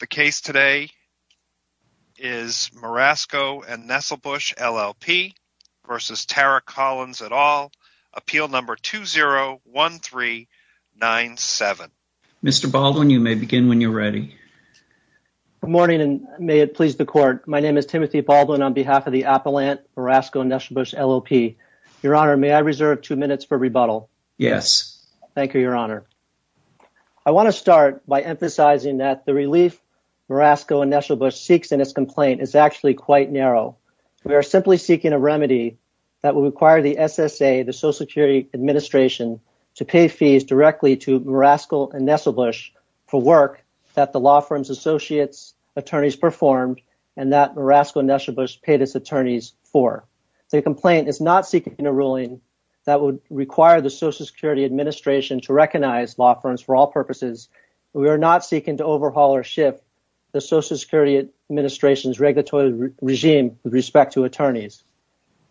The case today is Marasco & Nesselbush, LLP v. Tara Collins et al, appeal number 201397. Mr. Baldwin, you may begin when you're ready. Good morning, and may it please the Court. My name is Timothy Baldwin on behalf of the Appellant Marasco & Nesselbush, LLP. Your Honor, may I reserve two minutes for rebuttal? Yes. Thank you, Your Honor. I want to start by emphasizing that the relief Marasco & Nesselbush seeks in this complaint is actually quite narrow. We are simply seeking a remedy that will require the SSA, the Social Security Administration, to pay fees directly to Marasco & Nesselbush for work that the law firm's associates, attorneys performed, and that Marasco & Nesselbush paid its attorneys for. The complaint is not seeking a ruling that would require the Social Security Administration to recognize law firms for all purposes. We are not seeking to overhaul or shift the Social Security Administration's regulatory regime with respect to attorneys.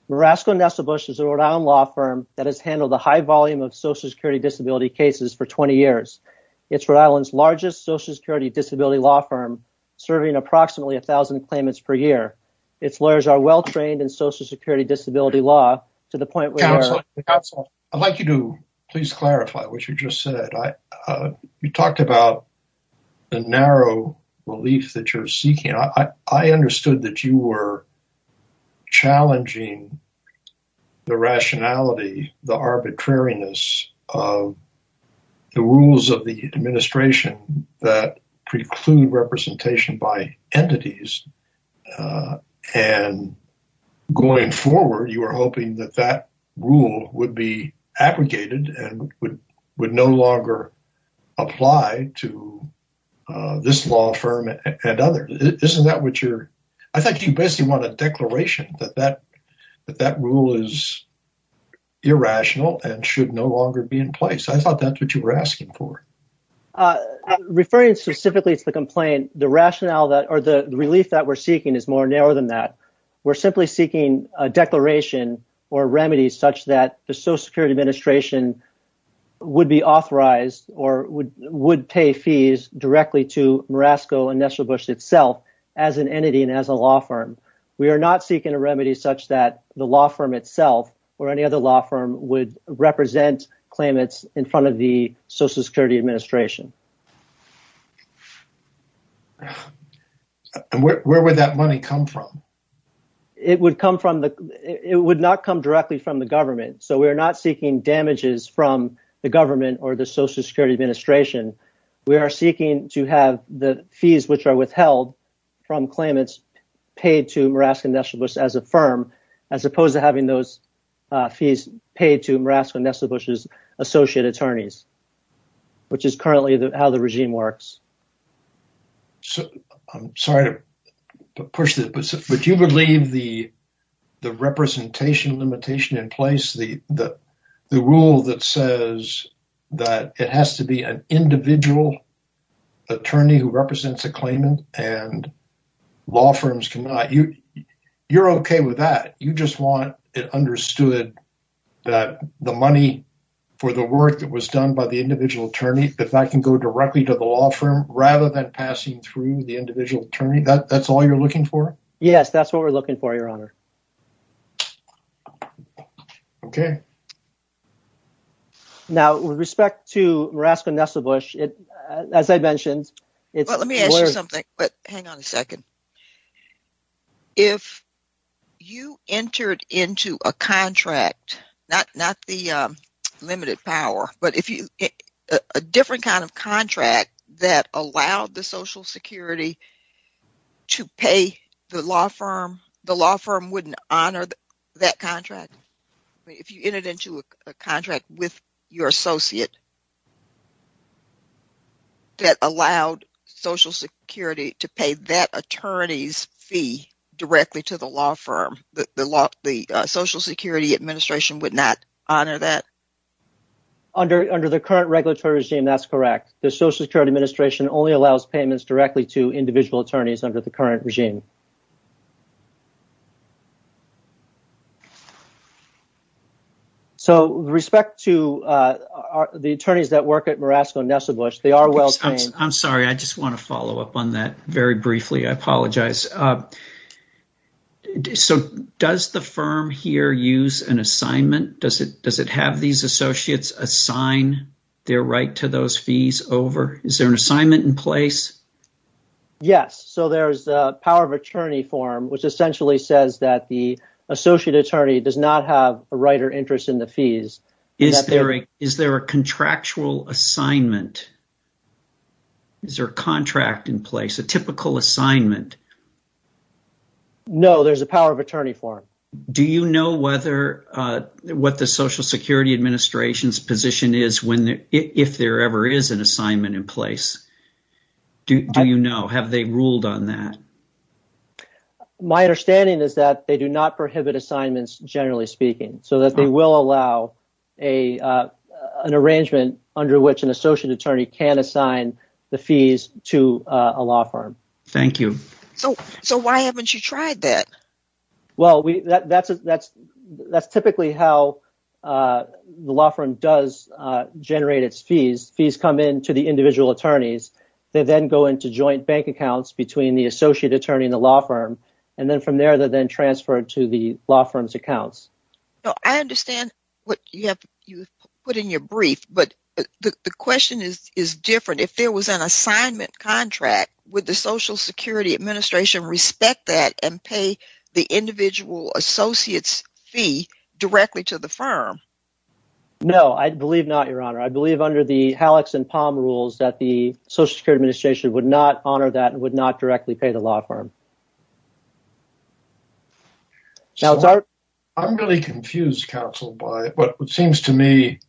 Marasco & Nesselbush is a Rhode Island law firm that has handled a high volume of Social Security disability cases for 20 years. It's Rhode Island's largest Social Security disability law firm, serving approximately 1,000 claimants per year. Its lawyers are well-trained in disability law. I'd like you to please clarify what you just said. You talked about the narrow relief that you're seeking. I understood that you were challenging the rationality, the arbitrariness of the rules of the administration that preclude representation by entities. Going forward, you were hoping that that rule would be abrogated and would no longer apply to this law firm and others. I think you basically want a declaration that that rule is irrational and should no longer be in place. I thought that's what you were asking for. Referring specifically to the complaint, the rationale or the relief that we're seeking is more narrow than that. We're simply seeking a declaration or remedies such that the Social Security Administration would be authorized or would pay fees directly to Marasco & Nesselbush itself as an entity and as a law firm. We are not seeking a remedy such that the law firm itself or any other law firm would represent claimants in front of the Social Security Administration. Where would that money come from? It would not come directly from the government. We are not seeking damages from the government or the Social Security Administration. We are seeking to have the fees which are withheld from claimants paid to Marasco & Nesselbush as a firm as opposed to those fees paid to Marasco & Nesselbush's associate attorneys, which is currently how the regime works. I'm sorry to push this, but you believe the representation limitation in place, the rule that says that it has to be an individual attorney who represents a claimant and law firms cannot. You're okay with that? You just want it understood that the money for the work that was done by the individual attorney, that that can go directly to the law firm rather than passing through the individual attorney? That's all you're looking for? Yes, that's what we're looking for, your honor. Okay. Now, with respect to Marasco & Nesselbush, as I mentioned, it's a different kind of contract that allowed the Social Security to pay the law firm. The law firm wouldn't honor that contract. If you entered into a contract with your associate that allowed Social Security to pay that attorney's fee directly to the law firm, the Social Security Administration would not honor that? Under the current regulatory regime, that's correct. The Social Security Administration only allows payments directly to individual attorneys under the current regime. So, with respect to the attorneys that work at Marasco & Nesselbush, they are well-trained. I'm sorry. I just want to follow up on that very briefly. I apologize. So, does the firm here use an assignment? Does it have these associates assign their right to those fees over? Is there an assignment in place? Yes. So, there's a power of attorney form, which essentially says that the associate attorney does not have a right or interest in the fees. Is there a contractual assignment? Is there a contract in place, a typical assignment? No, there's a power of attorney form. Do you know what the Social Security Administration does? Do you know? Have they ruled on that? My understanding is that they do not prohibit assignments, generally speaking, so that they will allow an arrangement under which an associate attorney can assign the fees to a law firm. Thank you. So, why haven't you tried that? Well, that's typically how the law firm does generate its fees. Fees come in to the individual attorneys. They then go into joint bank accounts between the associate attorney and the law firm, and then from there, they're then transferred to the law firm's accounts. I understand what you have put in your brief, but the question is different. If there was an assignment contract, would the Social Security Administration respect that and pay the individual associate's fee directly to the firm? No, I believe not, Your Honor. I believe under the Halleck's and Palm rules that the Social Security Administration would not honor that and would not directly pay the law firm. I'm really confused, counsel, by what seems to me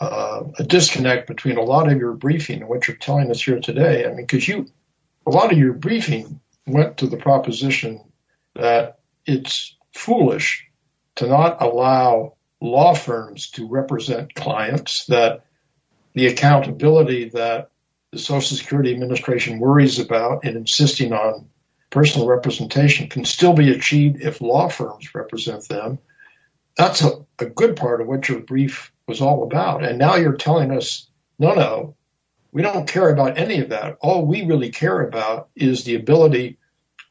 a disconnect between a lot of your briefing and what you're telling us here today. A lot of your briefing went to the proposition that it's foolish to not allow law firms to the accountability that the Social Security Administration worries about in insisting on personal representation can still be achieved if law firms represent them. That's a good part of what your brief was all about, and now you're telling us, no, no, we don't care about any of that. All we really care about is the ability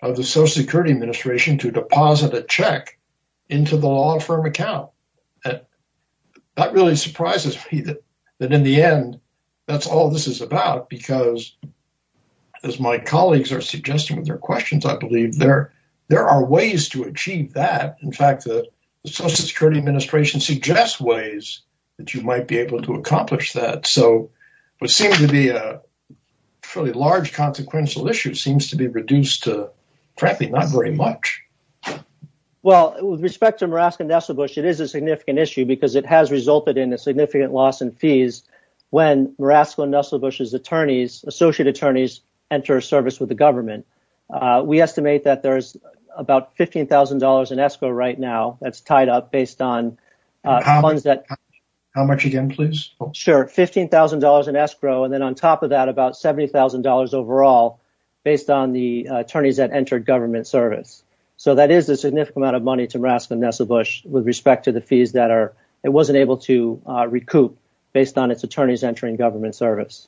of the Social Security Administration to deposit a check into the law firm account. And that really surprises me that in the end that's all this is about, because as my colleagues are suggesting with their questions, I believe there are ways to achieve that. In fact, the Social Security Administration suggests ways that you might be able to accomplish that. So what seems to be a fairly large consequential issue seems to be reduced to, not very much. Well, with respect to Murasko and Nusselbusch, it is a significant issue because it has resulted in a significant loss in fees when Murasko and Nusselbusch's attorneys, associate attorneys, enter service with the government. We estimate that there's about $15,000 in escrow right now that's tied up based on funds that... How much again, please? Sure. $15,000 in escrow, and then on top of that, about $70,000 overall based on the attorneys that entered government service. So that is a significant amount of money to Murasko and Nusselbusch with respect to the fees that it wasn't able to recoup based on its attorneys entering government service.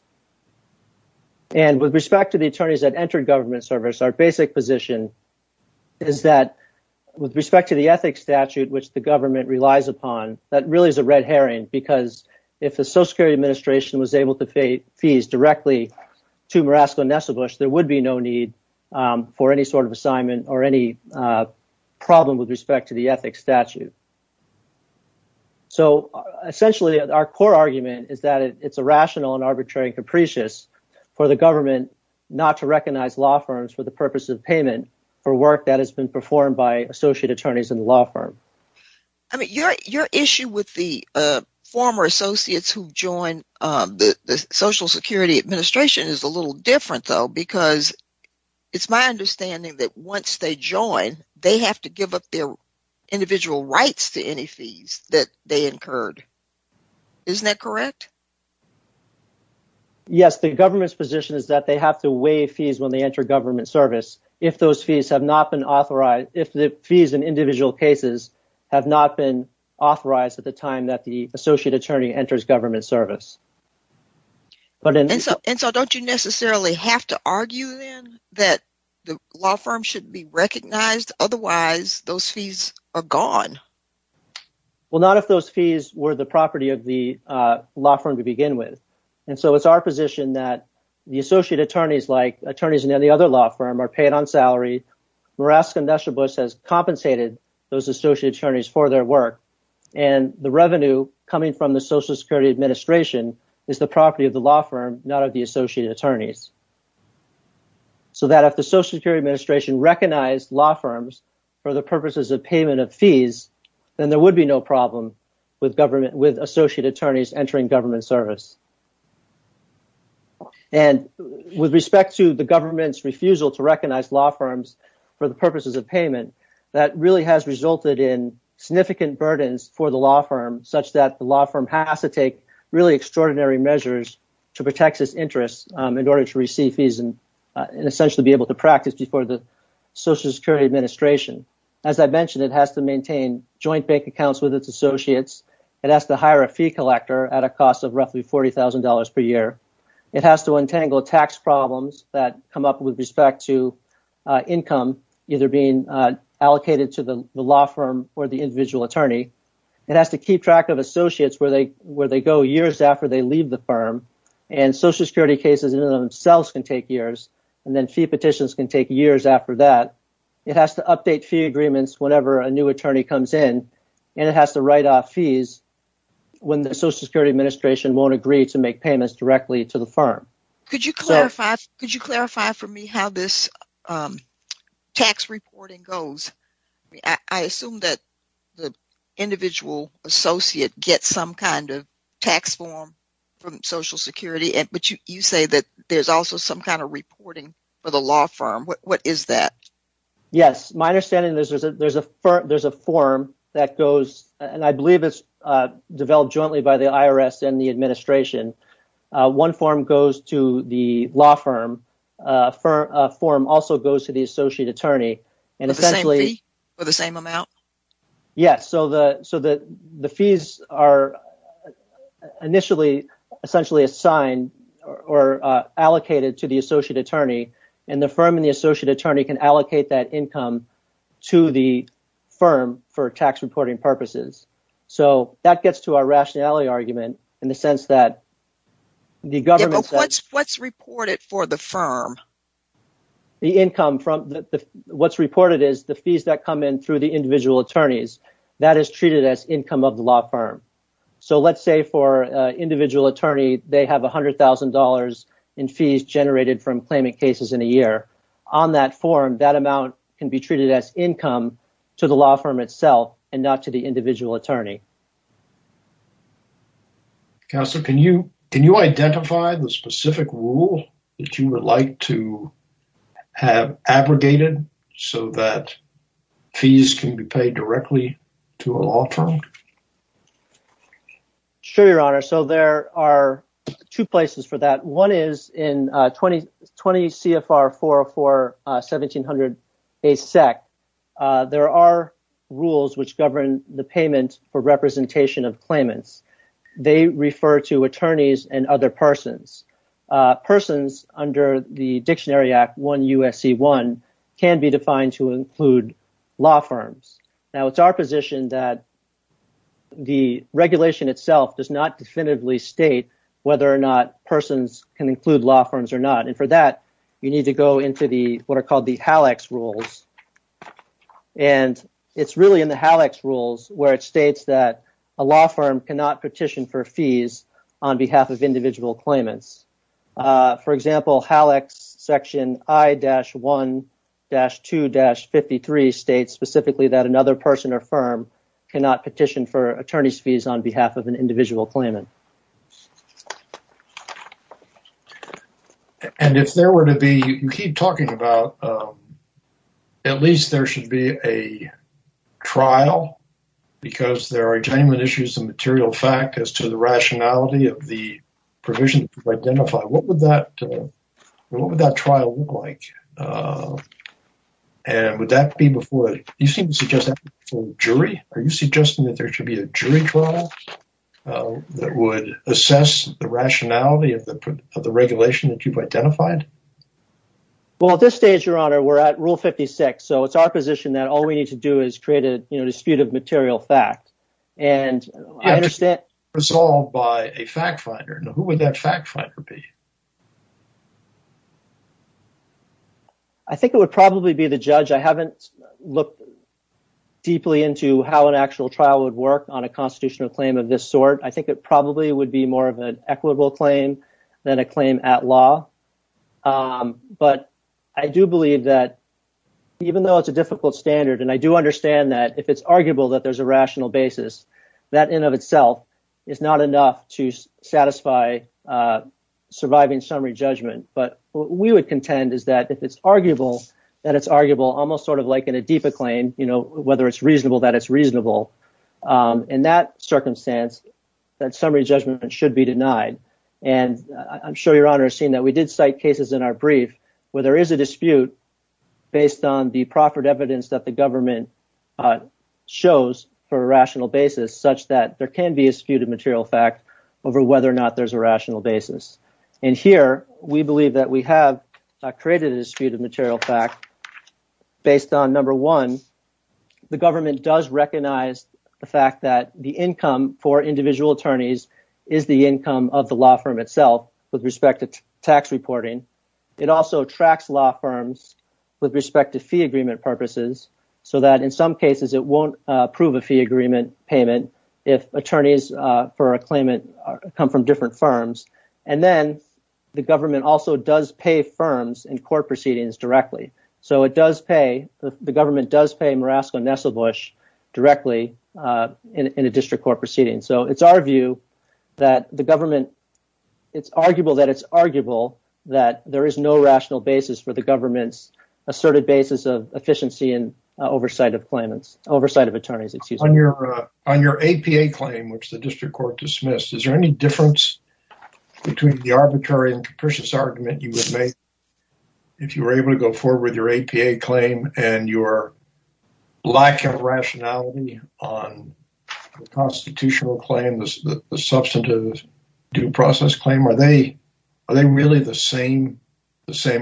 And with respect to the attorneys that entered government service, our basic position is that with respect to the ethics statute, which the government relies upon, that really is a red herring because if the Social Security Administration was able to pay directly to Murasko and Nusselbusch, there would be no need for any sort of assignment or any problem with respect to the ethics statute. So essentially, our core argument is that it's irrational and arbitrary and capricious for the government not to recognize law firms for the purpose of payment for work that has been performed by associate attorneys in the law firm. I mean, your issue with the former associates who joined the Social Security Administration is a little different though, because it's my understanding that once they join, they have to give up their individual rights to any fees that they incurred. Isn't that correct? Yes, the government's position is that they have to waive fees when they enter government service if the fees in individual cases have not been authorized at the time that the associate attorney enters government service. And so don't you necessarily have to argue then that the law firm should be recognized? Otherwise, those fees are gone. Well, not if those fees were the property of the law firm to begin with. And so it's our position that the associate attorneys, like attorneys in any other law firm, are paid on salary. Morass Condestribus has compensated those associate attorneys for their work. And the revenue coming from the Social Security Administration is the property of the law firm, not of the associate attorneys. So that if the Social Security Administration recognized law firms for the purposes of payment of fees, then there would be no problem with associate attorneys entering government service. And with respect to the government's refusal to recognize law firms for the purposes of payment, that really has resulted in significant burdens for the law firm, such that the law firm has to take really extraordinary measures to protect its interests in order to receive fees and essentially be able to practice before the Social Security Administration. As I mentioned, it has to maintain joint bank accounts with its associates. It has hire a fee collector at a cost of roughly $40,000 per year. It has to untangle tax problems that come up with respect to income either being allocated to the law firm or the individual attorney. It has to keep track of associates where they go years after they leave the firm. And Social Security cases in and of themselves can take years. And then fee petitions can take years after that. It has to update fee agreements whenever a new attorney comes in. And it has to when the Social Security Administration won't agree to make payments directly to the firm. Could you clarify for me how this tax reporting goes? I assume that the individual associate gets some kind of tax form from Social Security, but you say that there's also some kind of reporting for the law firm. What is that? Yes, my understanding is that there's a form that goes, and I believe it's developed jointly by the IRS and the administration. One form goes to the law firm. A form also goes to the associate attorney and essentially... For the same amount? Yes. So the fees are initially essentially assigned or allocated to the associate attorney and the firm and the income to the firm for tax reporting purposes. So that gets to our rationality argument in the sense that the government... What's reported for the firm? What's reported is the fees that come in through the individual attorneys. That is treated as income of the law firm. So let's say for an individual attorney, they have $100,000 in fees generated from claiming cases in a year. On that form, that amount can be treated as income to the law firm itself and not to the individual attorney. Counselor, can you identify the specific rule that you would like to have abrogated so that fees can be paid directly to a law firm? Sure, Your Honor. So there are two places for that. One is in 20 CFR 404-1700-A-Sec. There are rules which govern the payment for representation of claimants. They refer to attorneys and other persons. Persons under the Dictionary Act 1 U.S.C. 1 can be defined to the regulation itself does not definitively state whether or not persons can include law firms or not. And for that, you need to go into what are called the HALEX rules. And it's really in the HALEX rules where it states that a law firm cannot petition for fees on behalf of individual claimants. For example, HALEX section I-1-2-53 states specifically that another person or firm cannot petition for attorney's fees on behalf of an individual claimant. And if there were to be, you keep talking about, at least there should be a trial because there are genuine issues of material fact as to the rationality of the provisions you've identified. What would that trial look like? And would that be before you seem to suggest a jury? Are you suggesting that there should be a jury trial that would assess the rationality of the regulation that you've identified? Well, at this stage, Your Honor, we're at Rule 56. So it's our position that all we need to do is create a dispute of material fact. And I understand... I think it would probably be the judge. I haven't looked deeply into how an actual trial would work on a constitutional claim of this sort. I think it probably would be more of an equitable claim than a claim at law. But I do believe that even though it's a difficult standard, and I do understand that if it's arguable that there's a rational basis, that in of itself is not enough to satisfy surviving summary judgment. But what we would contend is that if it's arguable, that it's arguable almost sort of like in a DFA claim, you know, whether it's reasonable, that it's reasonable. In that circumstance, that summary judgment should be denied. And I'm sure Your Honor has seen that we did cite cases in our brief where there is a dispute based on the proffered evidence that the government shows for a rational basis such that there can be a dispute of material fact over whether or not there's a rational basis. And here we believe that we have created a dispute of material fact based on, number one, the government does recognize the fact that the income for individual attorneys is the income of the law firm itself with respect to tax reporting. It also tracks law firms with respect to fee agreement purposes so that in some cases it won't approve a fee agreement payment if attorneys for a claimant come from different firms. And then the government also does pay firms in court proceedings directly. So it does pay, the government does pay Murasko and Nesselbush directly in a district court proceeding. So it's our view that the government, it's arguable that there is no rational basis for the government's asserted basis of efficiency and oversight of claimants, oversight of attorneys, excuse me. On your APA claim, which the district court dismissed, is there any difference between the arbitrary and capricious argument you would make if you were able to go forward with your APA claim and your lack of rationality on the constitutional claim, the substantive due process claim? Are they really the same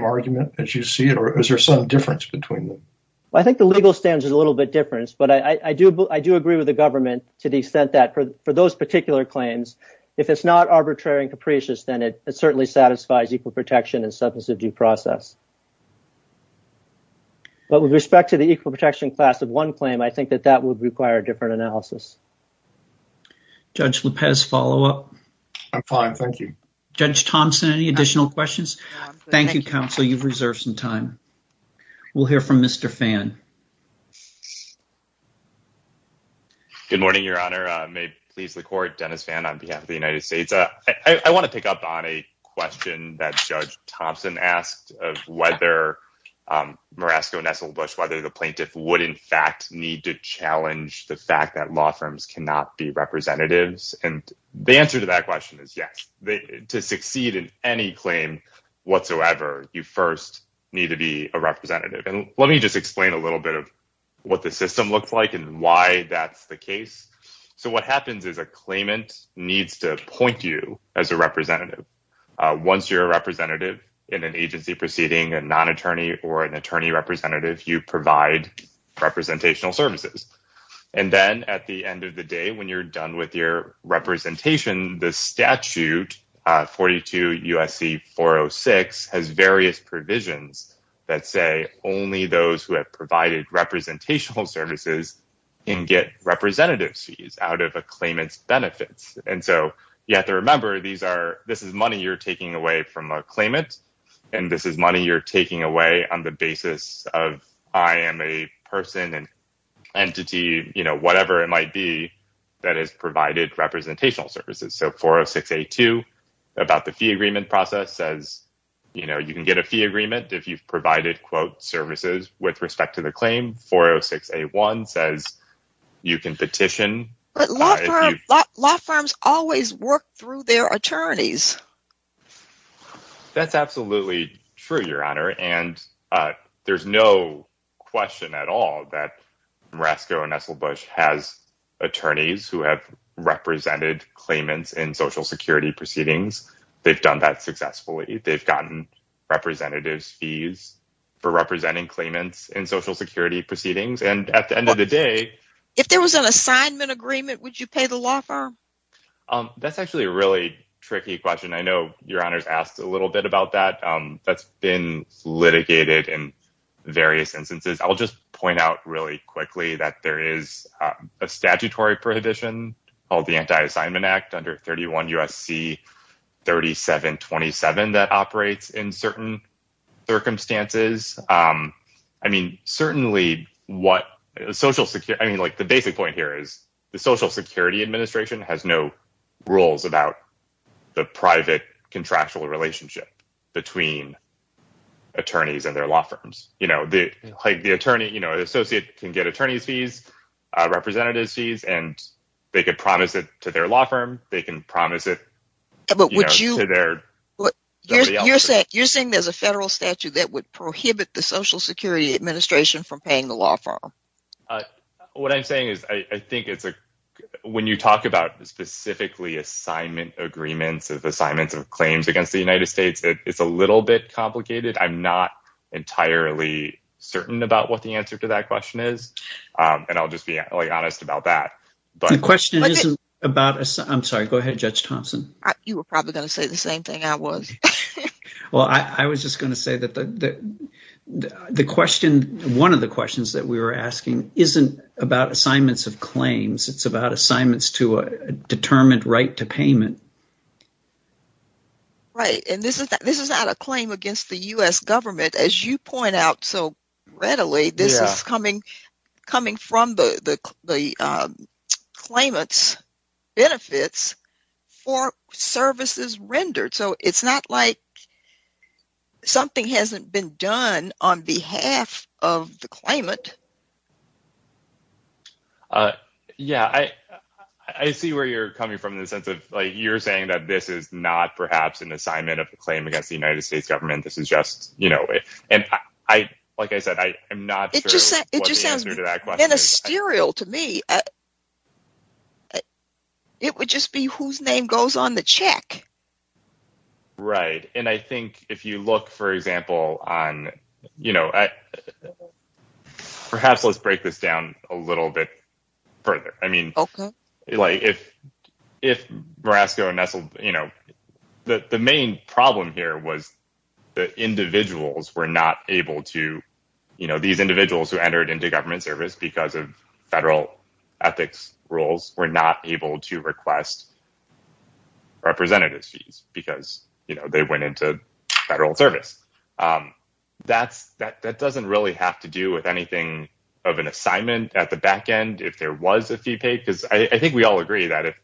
argument as you see it, or is there some difference between them? Well, I think the legal standard is a little bit different, but I do agree with the government to the extent that for those particular claims, if it's not arbitrary and capricious, then it certainly satisfies equal protection and substantive due process. But with respect to the equal protection class of one claim, I think that that would require different analysis. Judge Lopez, follow up. I'm fine, thank you. Judge Thompson, any additional questions? Thank you, counsel. You've reserved some time. We'll hear from Mr. Fan. Good morning, Your Honor. May it please the court, Dennis Fan on behalf of the United States. I want to pick up on a question that Judge Thompson asked of whether Murasko and Nesselbush, the plaintiff, would in fact need to challenge the fact that law firms cannot be representatives. The answer to that question is yes. To succeed in any claim whatsoever, you first need to be a representative. Let me just explain a little bit of what the system looks like and why that's the case. What happens is a claimant needs to appoint you as a representative. Once you're in an agency proceeding, a non-attorney or an attorney representative, you provide representational services. Then at the end of the day, when you're done with your representation, the statute 42 U.S.C. 406 has various provisions that say only those who have provided representational services can get representative fees out of a claimant's benefits. You have to claim it and this is money you're taking away on the basis of I am a person and entity, you know, whatever it might be that has provided representational services. So 406A2 about the fee agreement process says, you know, you can get a fee agreement if you've provided quote services with respect to the claim. 406A1 says you can petition. But law firms always work through their attorneys. That's absolutely true, Your Honor. And there's no question at all that Marasco and Esselbush has attorneys who have represented claimants in social security proceedings. They've done that successfully. They've gotten representatives fees for representing claimants in social security proceedings. And at the end of the day, if there was an assignment agreement, would you pay the law firm? That's actually a really tricky question. I know Your Honor's asked a little bit about that. That's been litigated in various instances. I'll just point out really quickly that there is a statutory prohibition called the Anti-Assignment Act under 31 U.S.C. 3727 that operates in certain circumstances. I mean, certainly what social security, I mean, like the basic point here is the Social Security Administration has no rules about the private contractual relationship between attorneys and their law firms. You know, the attorney, you know, the associate can get attorney's fees, representative's fees, and they could promise it to their law firm. They can that would prohibit the Social Security Administration from paying the law firm. What I'm saying is I think it's when you talk about specifically assignment agreements, assignments of claims against the United States, it's a little bit complicated. I'm not entirely certain about what the answer to that question is. And I'll just be honest about that. The question isn't about, I'm sorry, go ahead, Judge Thompson. You were probably going to say the same thing I was. Well, I was just going to say that the question, one of the questions that we were asking isn't about assignments of claims. It's about assignments to a determined right to payment. Right. And this is not a claim against the U.S. government, as you point out so readily. This is coming from the claimant's benefits for services rendered. So it's not like something hasn't been done on behalf of the claimant. Yeah, I see where you're coming from in the sense of, like, you're saying that this is not perhaps an assignment of the claim against the United States government. This is just, and I, like I said, I am not sure what the answer to that question is. It just sounds hysterical to me. It would just be whose name goes on the check. Right. And I think if you look, for example, on, perhaps let's break this down a little bit further. I mean, like if if Morasco and Nestle, you know, the main problem here was that individuals were not able to, you know, these individuals who entered into government service because of federal ethics rules were not able to request representative fees because, you know, they went into federal service. That's that doesn't really have to do with anything of an assignment at the back end if there was a fee paid, because I think we all agree that if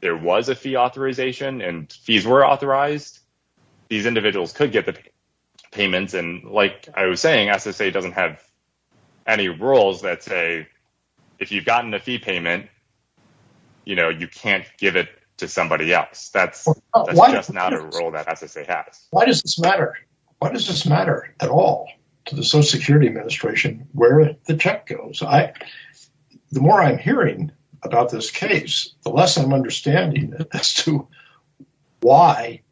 there was a fee authorization and fees were authorized, these individuals could get the payments. And like I was saying, SSA doesn't have any rules that say if you've gotten a fee payment, you know, you can't give it to somebody else. That's just not a role that SSA has. Why does this matter? Why does this matter at all to the Social Security Administration where the check goes? The more I'm hearing about this case, the less I'm understanding as to why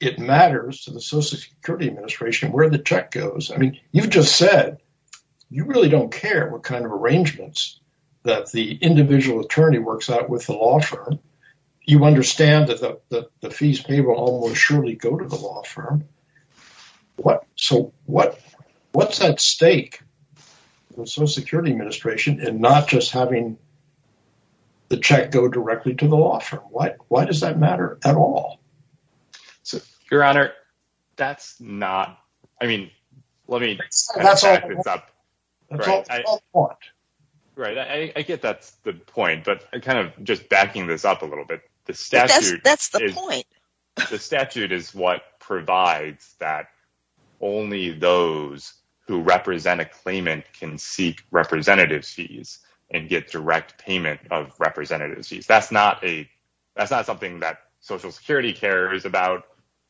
it matters to the Social Security Administration where the check goes. I mean, you've just said you really don't care what kind of arrangements that the individual attorney works out with the law firm. You understand that the fees paid will almost surely go to the law firm. So what's at stake in the Social Security Administration in not just having the check go directly to the law firm? Why does that matter at all? So, Your Honor, that's not, I mean, let me, I get that's the point, but I kind of just backing this up a little bit. That's the point. The statute is what provides that only those who represent a claimant can seek representative fees and get direct payment of representative fees. That's not a, that's not something that Social Security cares about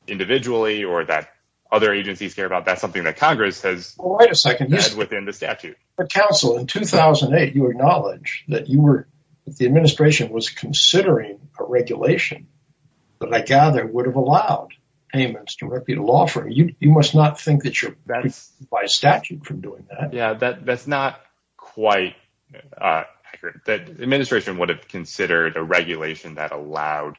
individually or that other agencies care about. That's something that within the statute. But counsel, in 2008, you acknowledged that you were, that the administration was considering a regulation that I gather would have allowed payments directly to the law firm. You must not think that you're banned by statute from doing that. Yeah, that's not quite accurate. The administration would have considered a regulation that allowed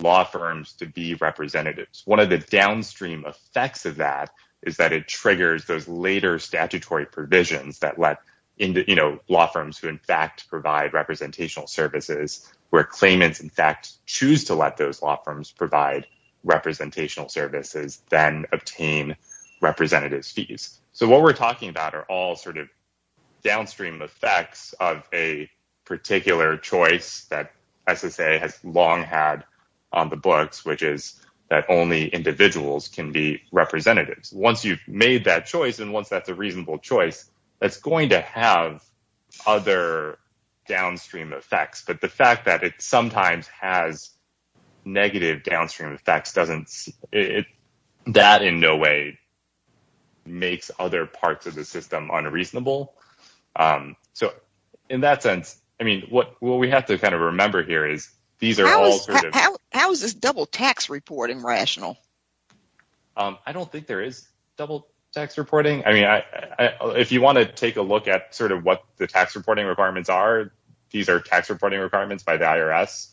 law firms to be representatives. One of the downstream effects of that is that it provisions that let law firms who in fact provide representational services, where claimants in fact choose to let those law firms provide representational services, then obtain representative fees. So what we're talking about are all sort of downstream effects of a particular choice that SSA has long had on the books, which is that only individuals can be representatives. Once you've made that choice, and once that's a reasonable choice, that's going to have other downstream effects. But the fact that it sometimes has negative downstream effects, that in no way makes other parts of the system unreasonable. So in that sense, I mean, what we have to kind of remember here is these are all sort of... How is this double tax reporting rational? I don't think there is double tax reporting. I mean, if you want to take a look at sort of what the tax reporting requirements are, these are tax reporting requirements by the IRS.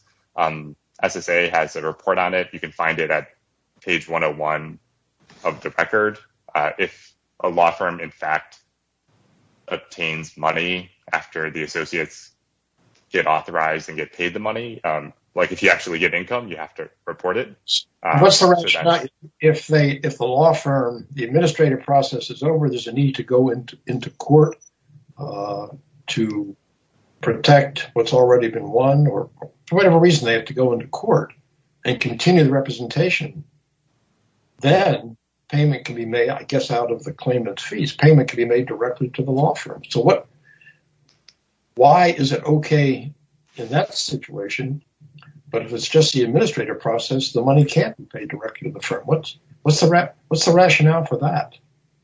SSA has a report on it. You can find it at page 101 of the record. If a law firm in fact obtains money after the associates get authorized and get paid the money, like if you actually get If the law firm, the administrative process is over, there's a need to go into court to protect what's already been won or whatever reason they have to go into court and continue the representation. Then payment can be made, I guess, out of the claimant's fees. Payment can be made directly to the law firm. So why is it okay in that situation? But if it's just the law firm, what's the rationale for that?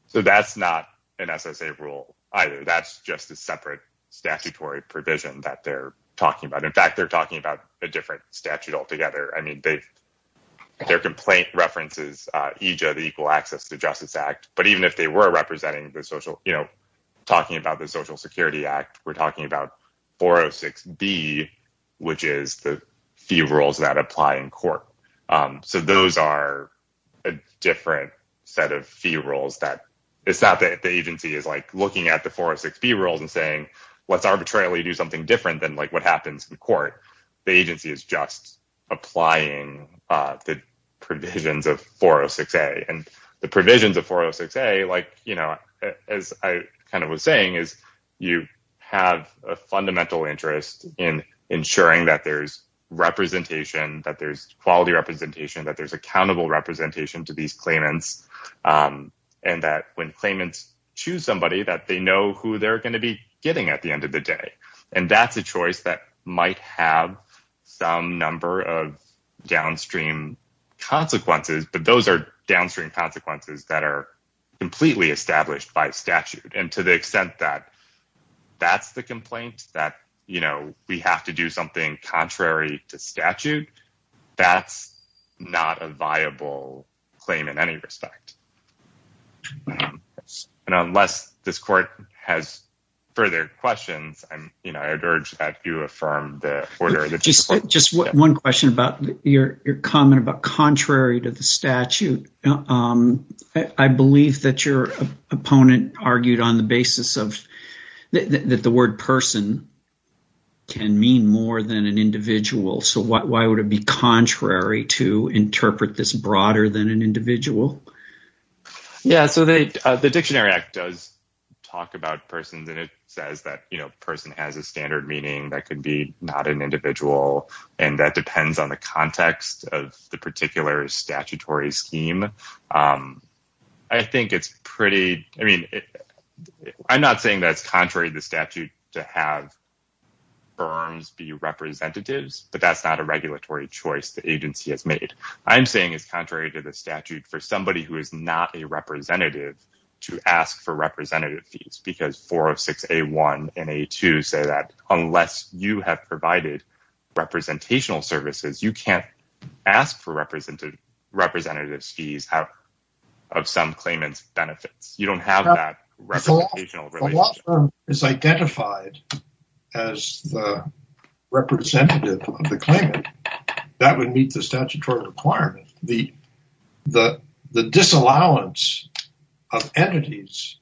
So that's not an SSA rule either. That's just a separate statutory provision that they're talking about. In fact, they're talking about a different statute altogether. I mean, their complaint references EJA, the Equal Access to Justice Act. But even if they were representing the social, you know, talking about the Social Security Act, we're talking about 406B, which is the fee rules that apply in court. So those are a different set of fee rules. It's not that the agency is like looking at the 406B rules and saying, let's arbitrarily do something different than like what happens in court. The agency is just applying the provisions of 406A. And the provisions of 406A, like, you know, as I kind of was saying, is you have a fundamental interest in ensuring that there's representation, that there's quality representation, that there's accountable representation to these claimants. And that when claimants choose somebody, that they know who they're going to be getting at the end of the day. And that's a choice that might have some number of downstream consequences. But those are downstream consequences that are completely established by statute. And to the extent that that's the complaint, that, you know, we have to do something contrary to statute, that's not a viable claim in any respect. And unless this court has further questions, I'm, you know, I'd urge that you affirm the order. Just one question about your comment about contrary to the statute. I believe that your opponent argued on the basis of that the word person can mean more than an individual. So why would it be contrary to interpret this broader than an individual? Yeah, so the Dictionary Act does talk about persons and it says that, you know, person has a standard meaning that could be not an individual. And that depends on the context of the particular statutory scheme. I think it's pretty, I mean, I'm not saying that's contrary to the statute to have firms be representatives, but that's not a regulatory choice the agency has made. I'm saying it's contrary to the statute for somebody who is not a representative to ask for representative fees, because four of six, A1 and A2 say that unless you have provided representational services, you can't ask for representative fees of some claimant's benefits. You don't have that representation. If a law firm is identified as the representative of the claimant, that would meet the statutory requirement. The disallowance of entities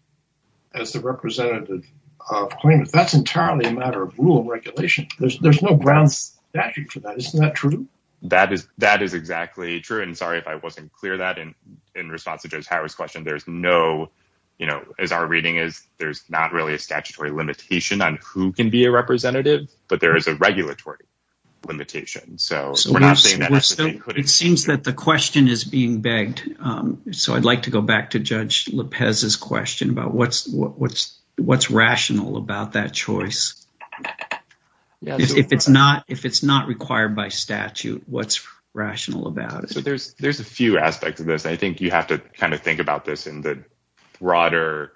as the representative of claimants, that's entirely a matter of rule and regulation. There's no ground statute for that. Isn't that true? That is exactly true. And sorry if I wasn't clear that in response to Joe's Harris question, there's no, you know, as our reading is, there's not really a statutory limitation on who can be a representative, but there is a regulatory limitation. It seems that the question is being begged. So I'd like to go back to Judge Lopez's question about what's rational about that choice. If it's not required by statute, what's rational about it? So there's a few aspects of this. I think you have to kind of think about this in the broader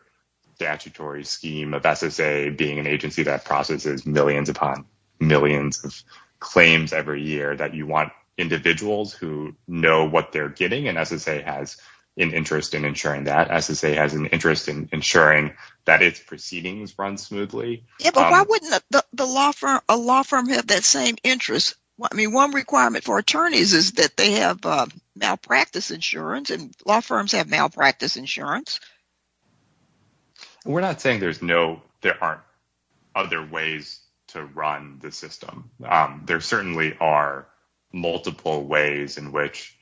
statutory scheme of SSA being an agency that processes millions upon millions of claims every year, that you want individuals who know what they're getting, and SSA has an interest in ensuring that. SSA has an interest in ensuring that its proceedings run smoothly. Yeah, but why wouldn't a law firm have that same interest? I mean, one requirement for attorneys is that they have malpractice insurance and law firms have malpractice insurance. We're not saying there's no, there aren't other ways to run the system. There certainly are multiple ways in which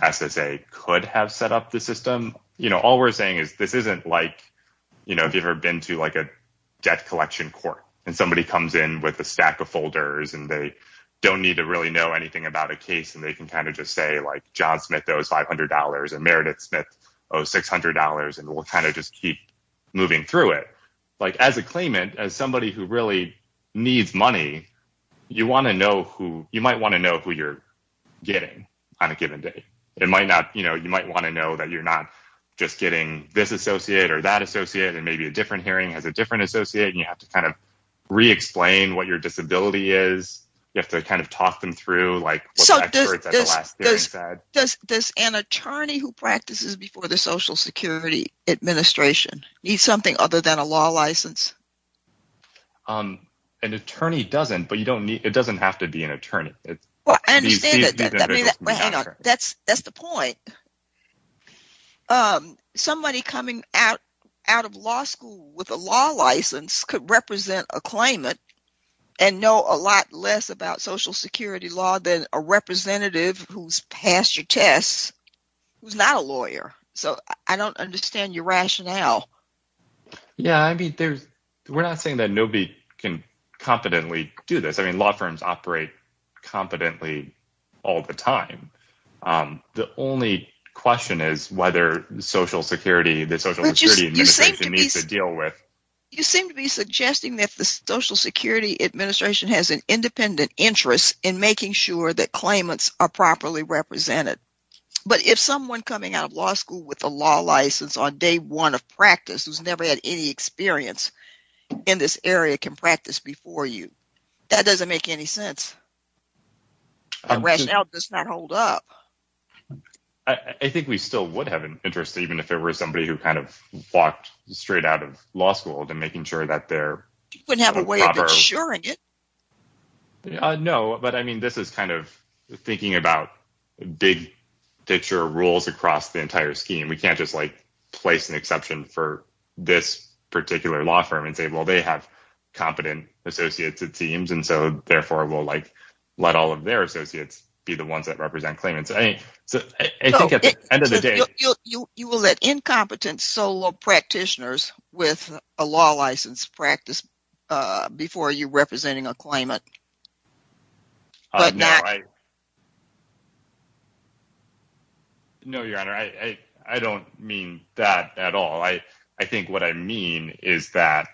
SSA could have set up the system. You know, all we're saying is this isn't like, you know, if you've ever been to like a debt collection court and somebody comes in with a stack of folders and they don't need to really know anything about a case and they can kind of just say like, John Smith owes $500 and Meredith Smith owes $600 and we'll kind of just keep moving through it. Like as a claimant, as somebody who really needs money, you want to know who, you might want to know who you're getting on a given day. It might not, you know, you might want to know that you're not just getting this associate or that associate and maybe a different hearing has is, you have to kind of talk them through like what the experts at the last hearing said. So does an attorney who practices before the Social Security Administration need something other than a law license? An attorney doesn't, but you don't need, it doesn't have to be an attorney. That's the point. Somebody coming out of law school with a law license could represent a less about Social Security law than a representative who's passed your tests, who's not a lawyer. So I don't understand your rationale. Yeah, I mean, there's, we're not saying that nobody can competently do this. I mean, law firms operate competently all the time. The only question is whether Social Security, the Social Security Administration needs to deal with. You seem to be suggesting that the Social Security Administration has an independent interest in making sure that claimants are properly represented. But if someone coming out of law school with a law license on day one of practice, who's never had any experience in this area can practice before you, that doesn't make any sense. Rationale does not hold up. I think we still would have an interest, even if it were somebody who kind of walked straight out of law school to making sure that they're proper. You wouldn't have a way of insuring it. No, but I mean, this is kind of thinking about big picture rules across the entire scheme. We can't just like place an exception for this particular law firm and say, well, they have competent associates, it seems. And so therefore we'll like, let all of their associates be the ones that represent claimants. I think at the end of the day. You will let incompetent solo practitioners with a law license practice before you're representing a claimant. No, Your Honor, I don't mean that at all. I think what I mean is that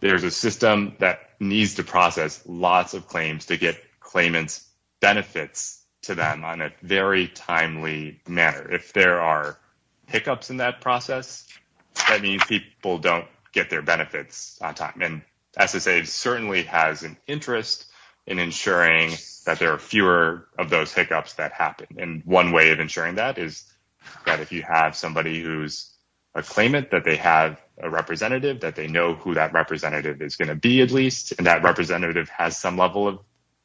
there's a system that needs to process lots of claims to get claimants benefits to them on a very timely manner. If there are hiccups in that process, that means people don't get their benefits on time. And SSA certainly has an interest in ensuring that there are fewer of those hiccups that happen. And one way of ensuring that is that if you have somebody who's a claimant, that they have a representative, that they know who that representative is going to be, at least. And that representative has some level of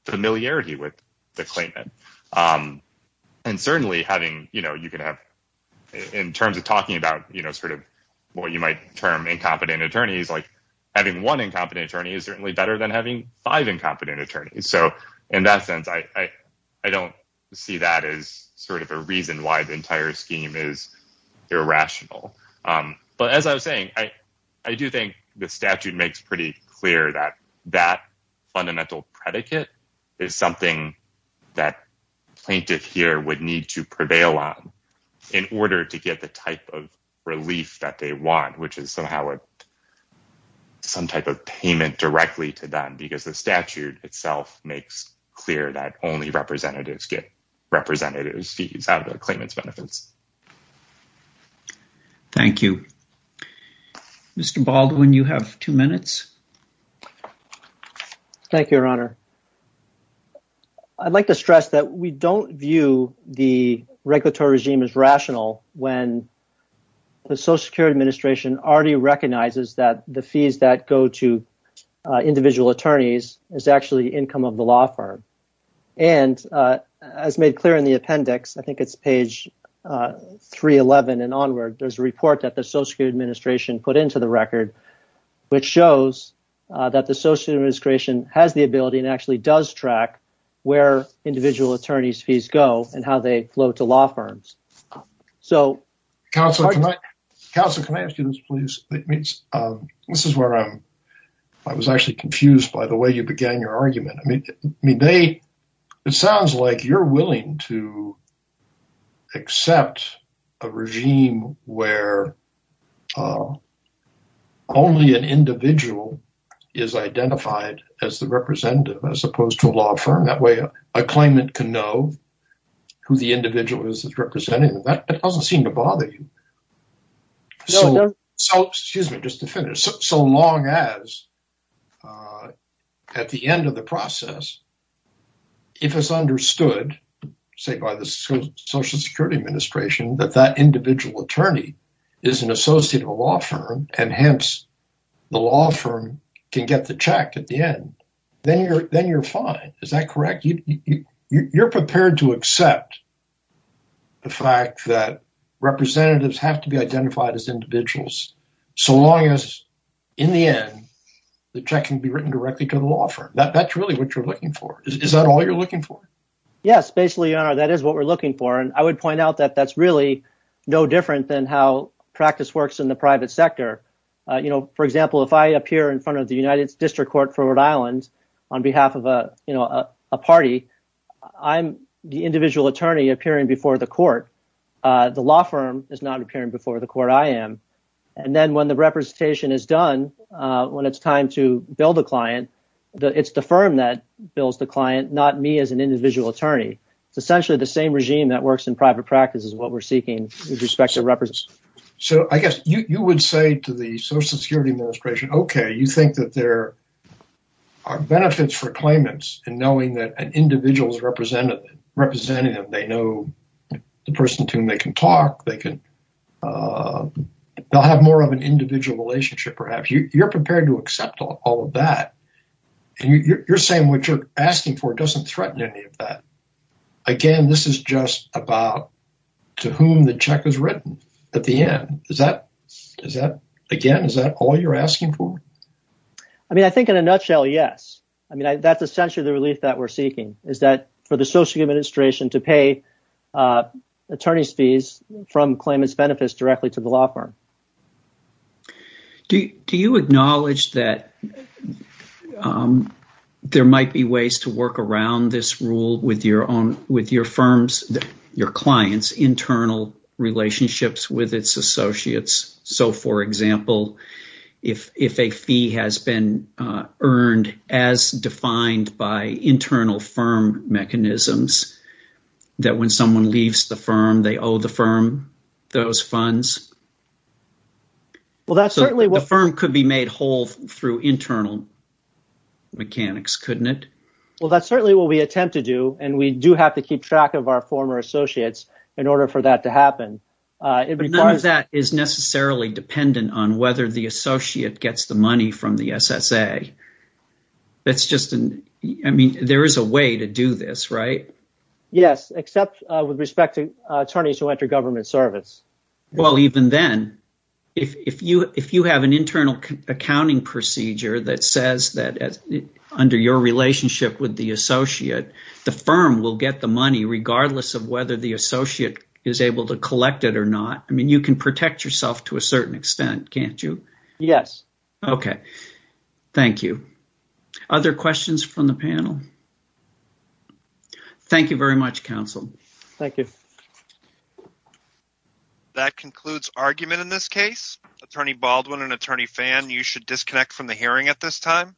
familiarity with the claimant. And certainly having, you know, you can have in terms of talking about, you know, sort of what you might term incompetent attorneys, like having one incompetent attorney is certainly better than having five incompetent attorneys. So in that sense, I don't see that as sort of a reason why the entire scheme is irrational. But as I was saying, I do think the statute makes pretty clear that that fundamental predicate is something that plaintiff here would need to prevail on in order to get the type of relief that they want, which is somehow some type of payment directly to them. Because the statute itself makes clear that only representatives get representative fees out of the claimant's benefits. Thank you. Mr. Baldwin, you have two minutes. Thank you, Your Honor. I'd like to stress that we don't view the regulatory regime as rational when the Social Security Administration already recognizes that the fees that go to individual attorneys is actually income of the law firm. And as made clear in the appendix, I think it's page 311 and onward, there's a report that the Social Security Administration put into the record, which shows that the Social Security Administration has the ability and actually does track where individual attorney's fees go and how they flow to law firms. So... Counselor, can I ask you this, please? This is where I was actually confused by the way you accept a regime where only an individual is identified as the representative as opposed to a law firm. That way a claimant can know who the individual is that's representing them. That doesn't seem to bother you. So, excuse me, just to finish, so long as at the end of the process, if it's understood, say by the Social Security Administration, that that individual attorney is an associate of a law firm and hence the law firm can get the check at the end, then you're fine. Is that correct? You're prepared to accept the fact that representatives have to be identified as individuals so long as in the end, the check can be written directly to the law firm. That's really what you're looking for. Is that all you're looking for? Yes, basically, Your Honor, that is what we're looking for. And I would point out that that's really no different than how practice works in the private sector. For example, if I appear in front of the United District Court for Rhode Island on behalf of a party, I'm the individual attorney appearing before the court. The law firm is not appearing before the court. I am. And then when the representation is done, when it's time to bill the client, it's the firm that bills the client, not me as an individual attorney. It's essentially the same regime that works in private practice is what we're seeking with respect to representation. So I guess you would say to the Social Security Administration, okay, you think that there are benefits for claimants in knowing that an individual is represented, that they know the person to whom they can talk. They'll have more of an individual relationship, perhaps. You're prepared to accept all of that. And you're saying what you're asking for doesn't threaten any of that. Again, this is just about to whom the check is written at the end. Again, is that all you're asking for? I mean, I think in a nutshell, yes. I mean, that's essentially the relief that we're seeking is that for the Social Administration to pay attorney's fees from claimants' benefits directly to the law firm. Do you acknowledge that there might be ways to work around this rule with your own, with your firm's, your client's internal relationships with its associates? So for example, if a fee has been earned as defined by internal firm mechanisms, that when someone leaves the firm, they owe the firm those funds? Well, that's certainly what... The firm could be made whole through internal mechanics, couldn't it? Well, that's certainly what we attempt to do. And we do have to keep track of our former associates in order for that to happen. None of that is necessarily dependent on whether the associate gets the money from the SSA. I mean, there is a way to do this, right? Yes, except with respect to attorneys who enter government service. Well, even then, if you have an internal accounting procedure that says that under your relationship with the associate, the firm will get the money regardless of whether the associate is able to collect it or not. I mean, you can protect yourself to a certain extent, can't you? Yes. Okay. Thank you. Other questions from the panel? Thank you very much, counsel. Thank you. That concludes argument in this case. Attorney Baldwin and Attorney Fan, you should disconnect from the hearing at this time.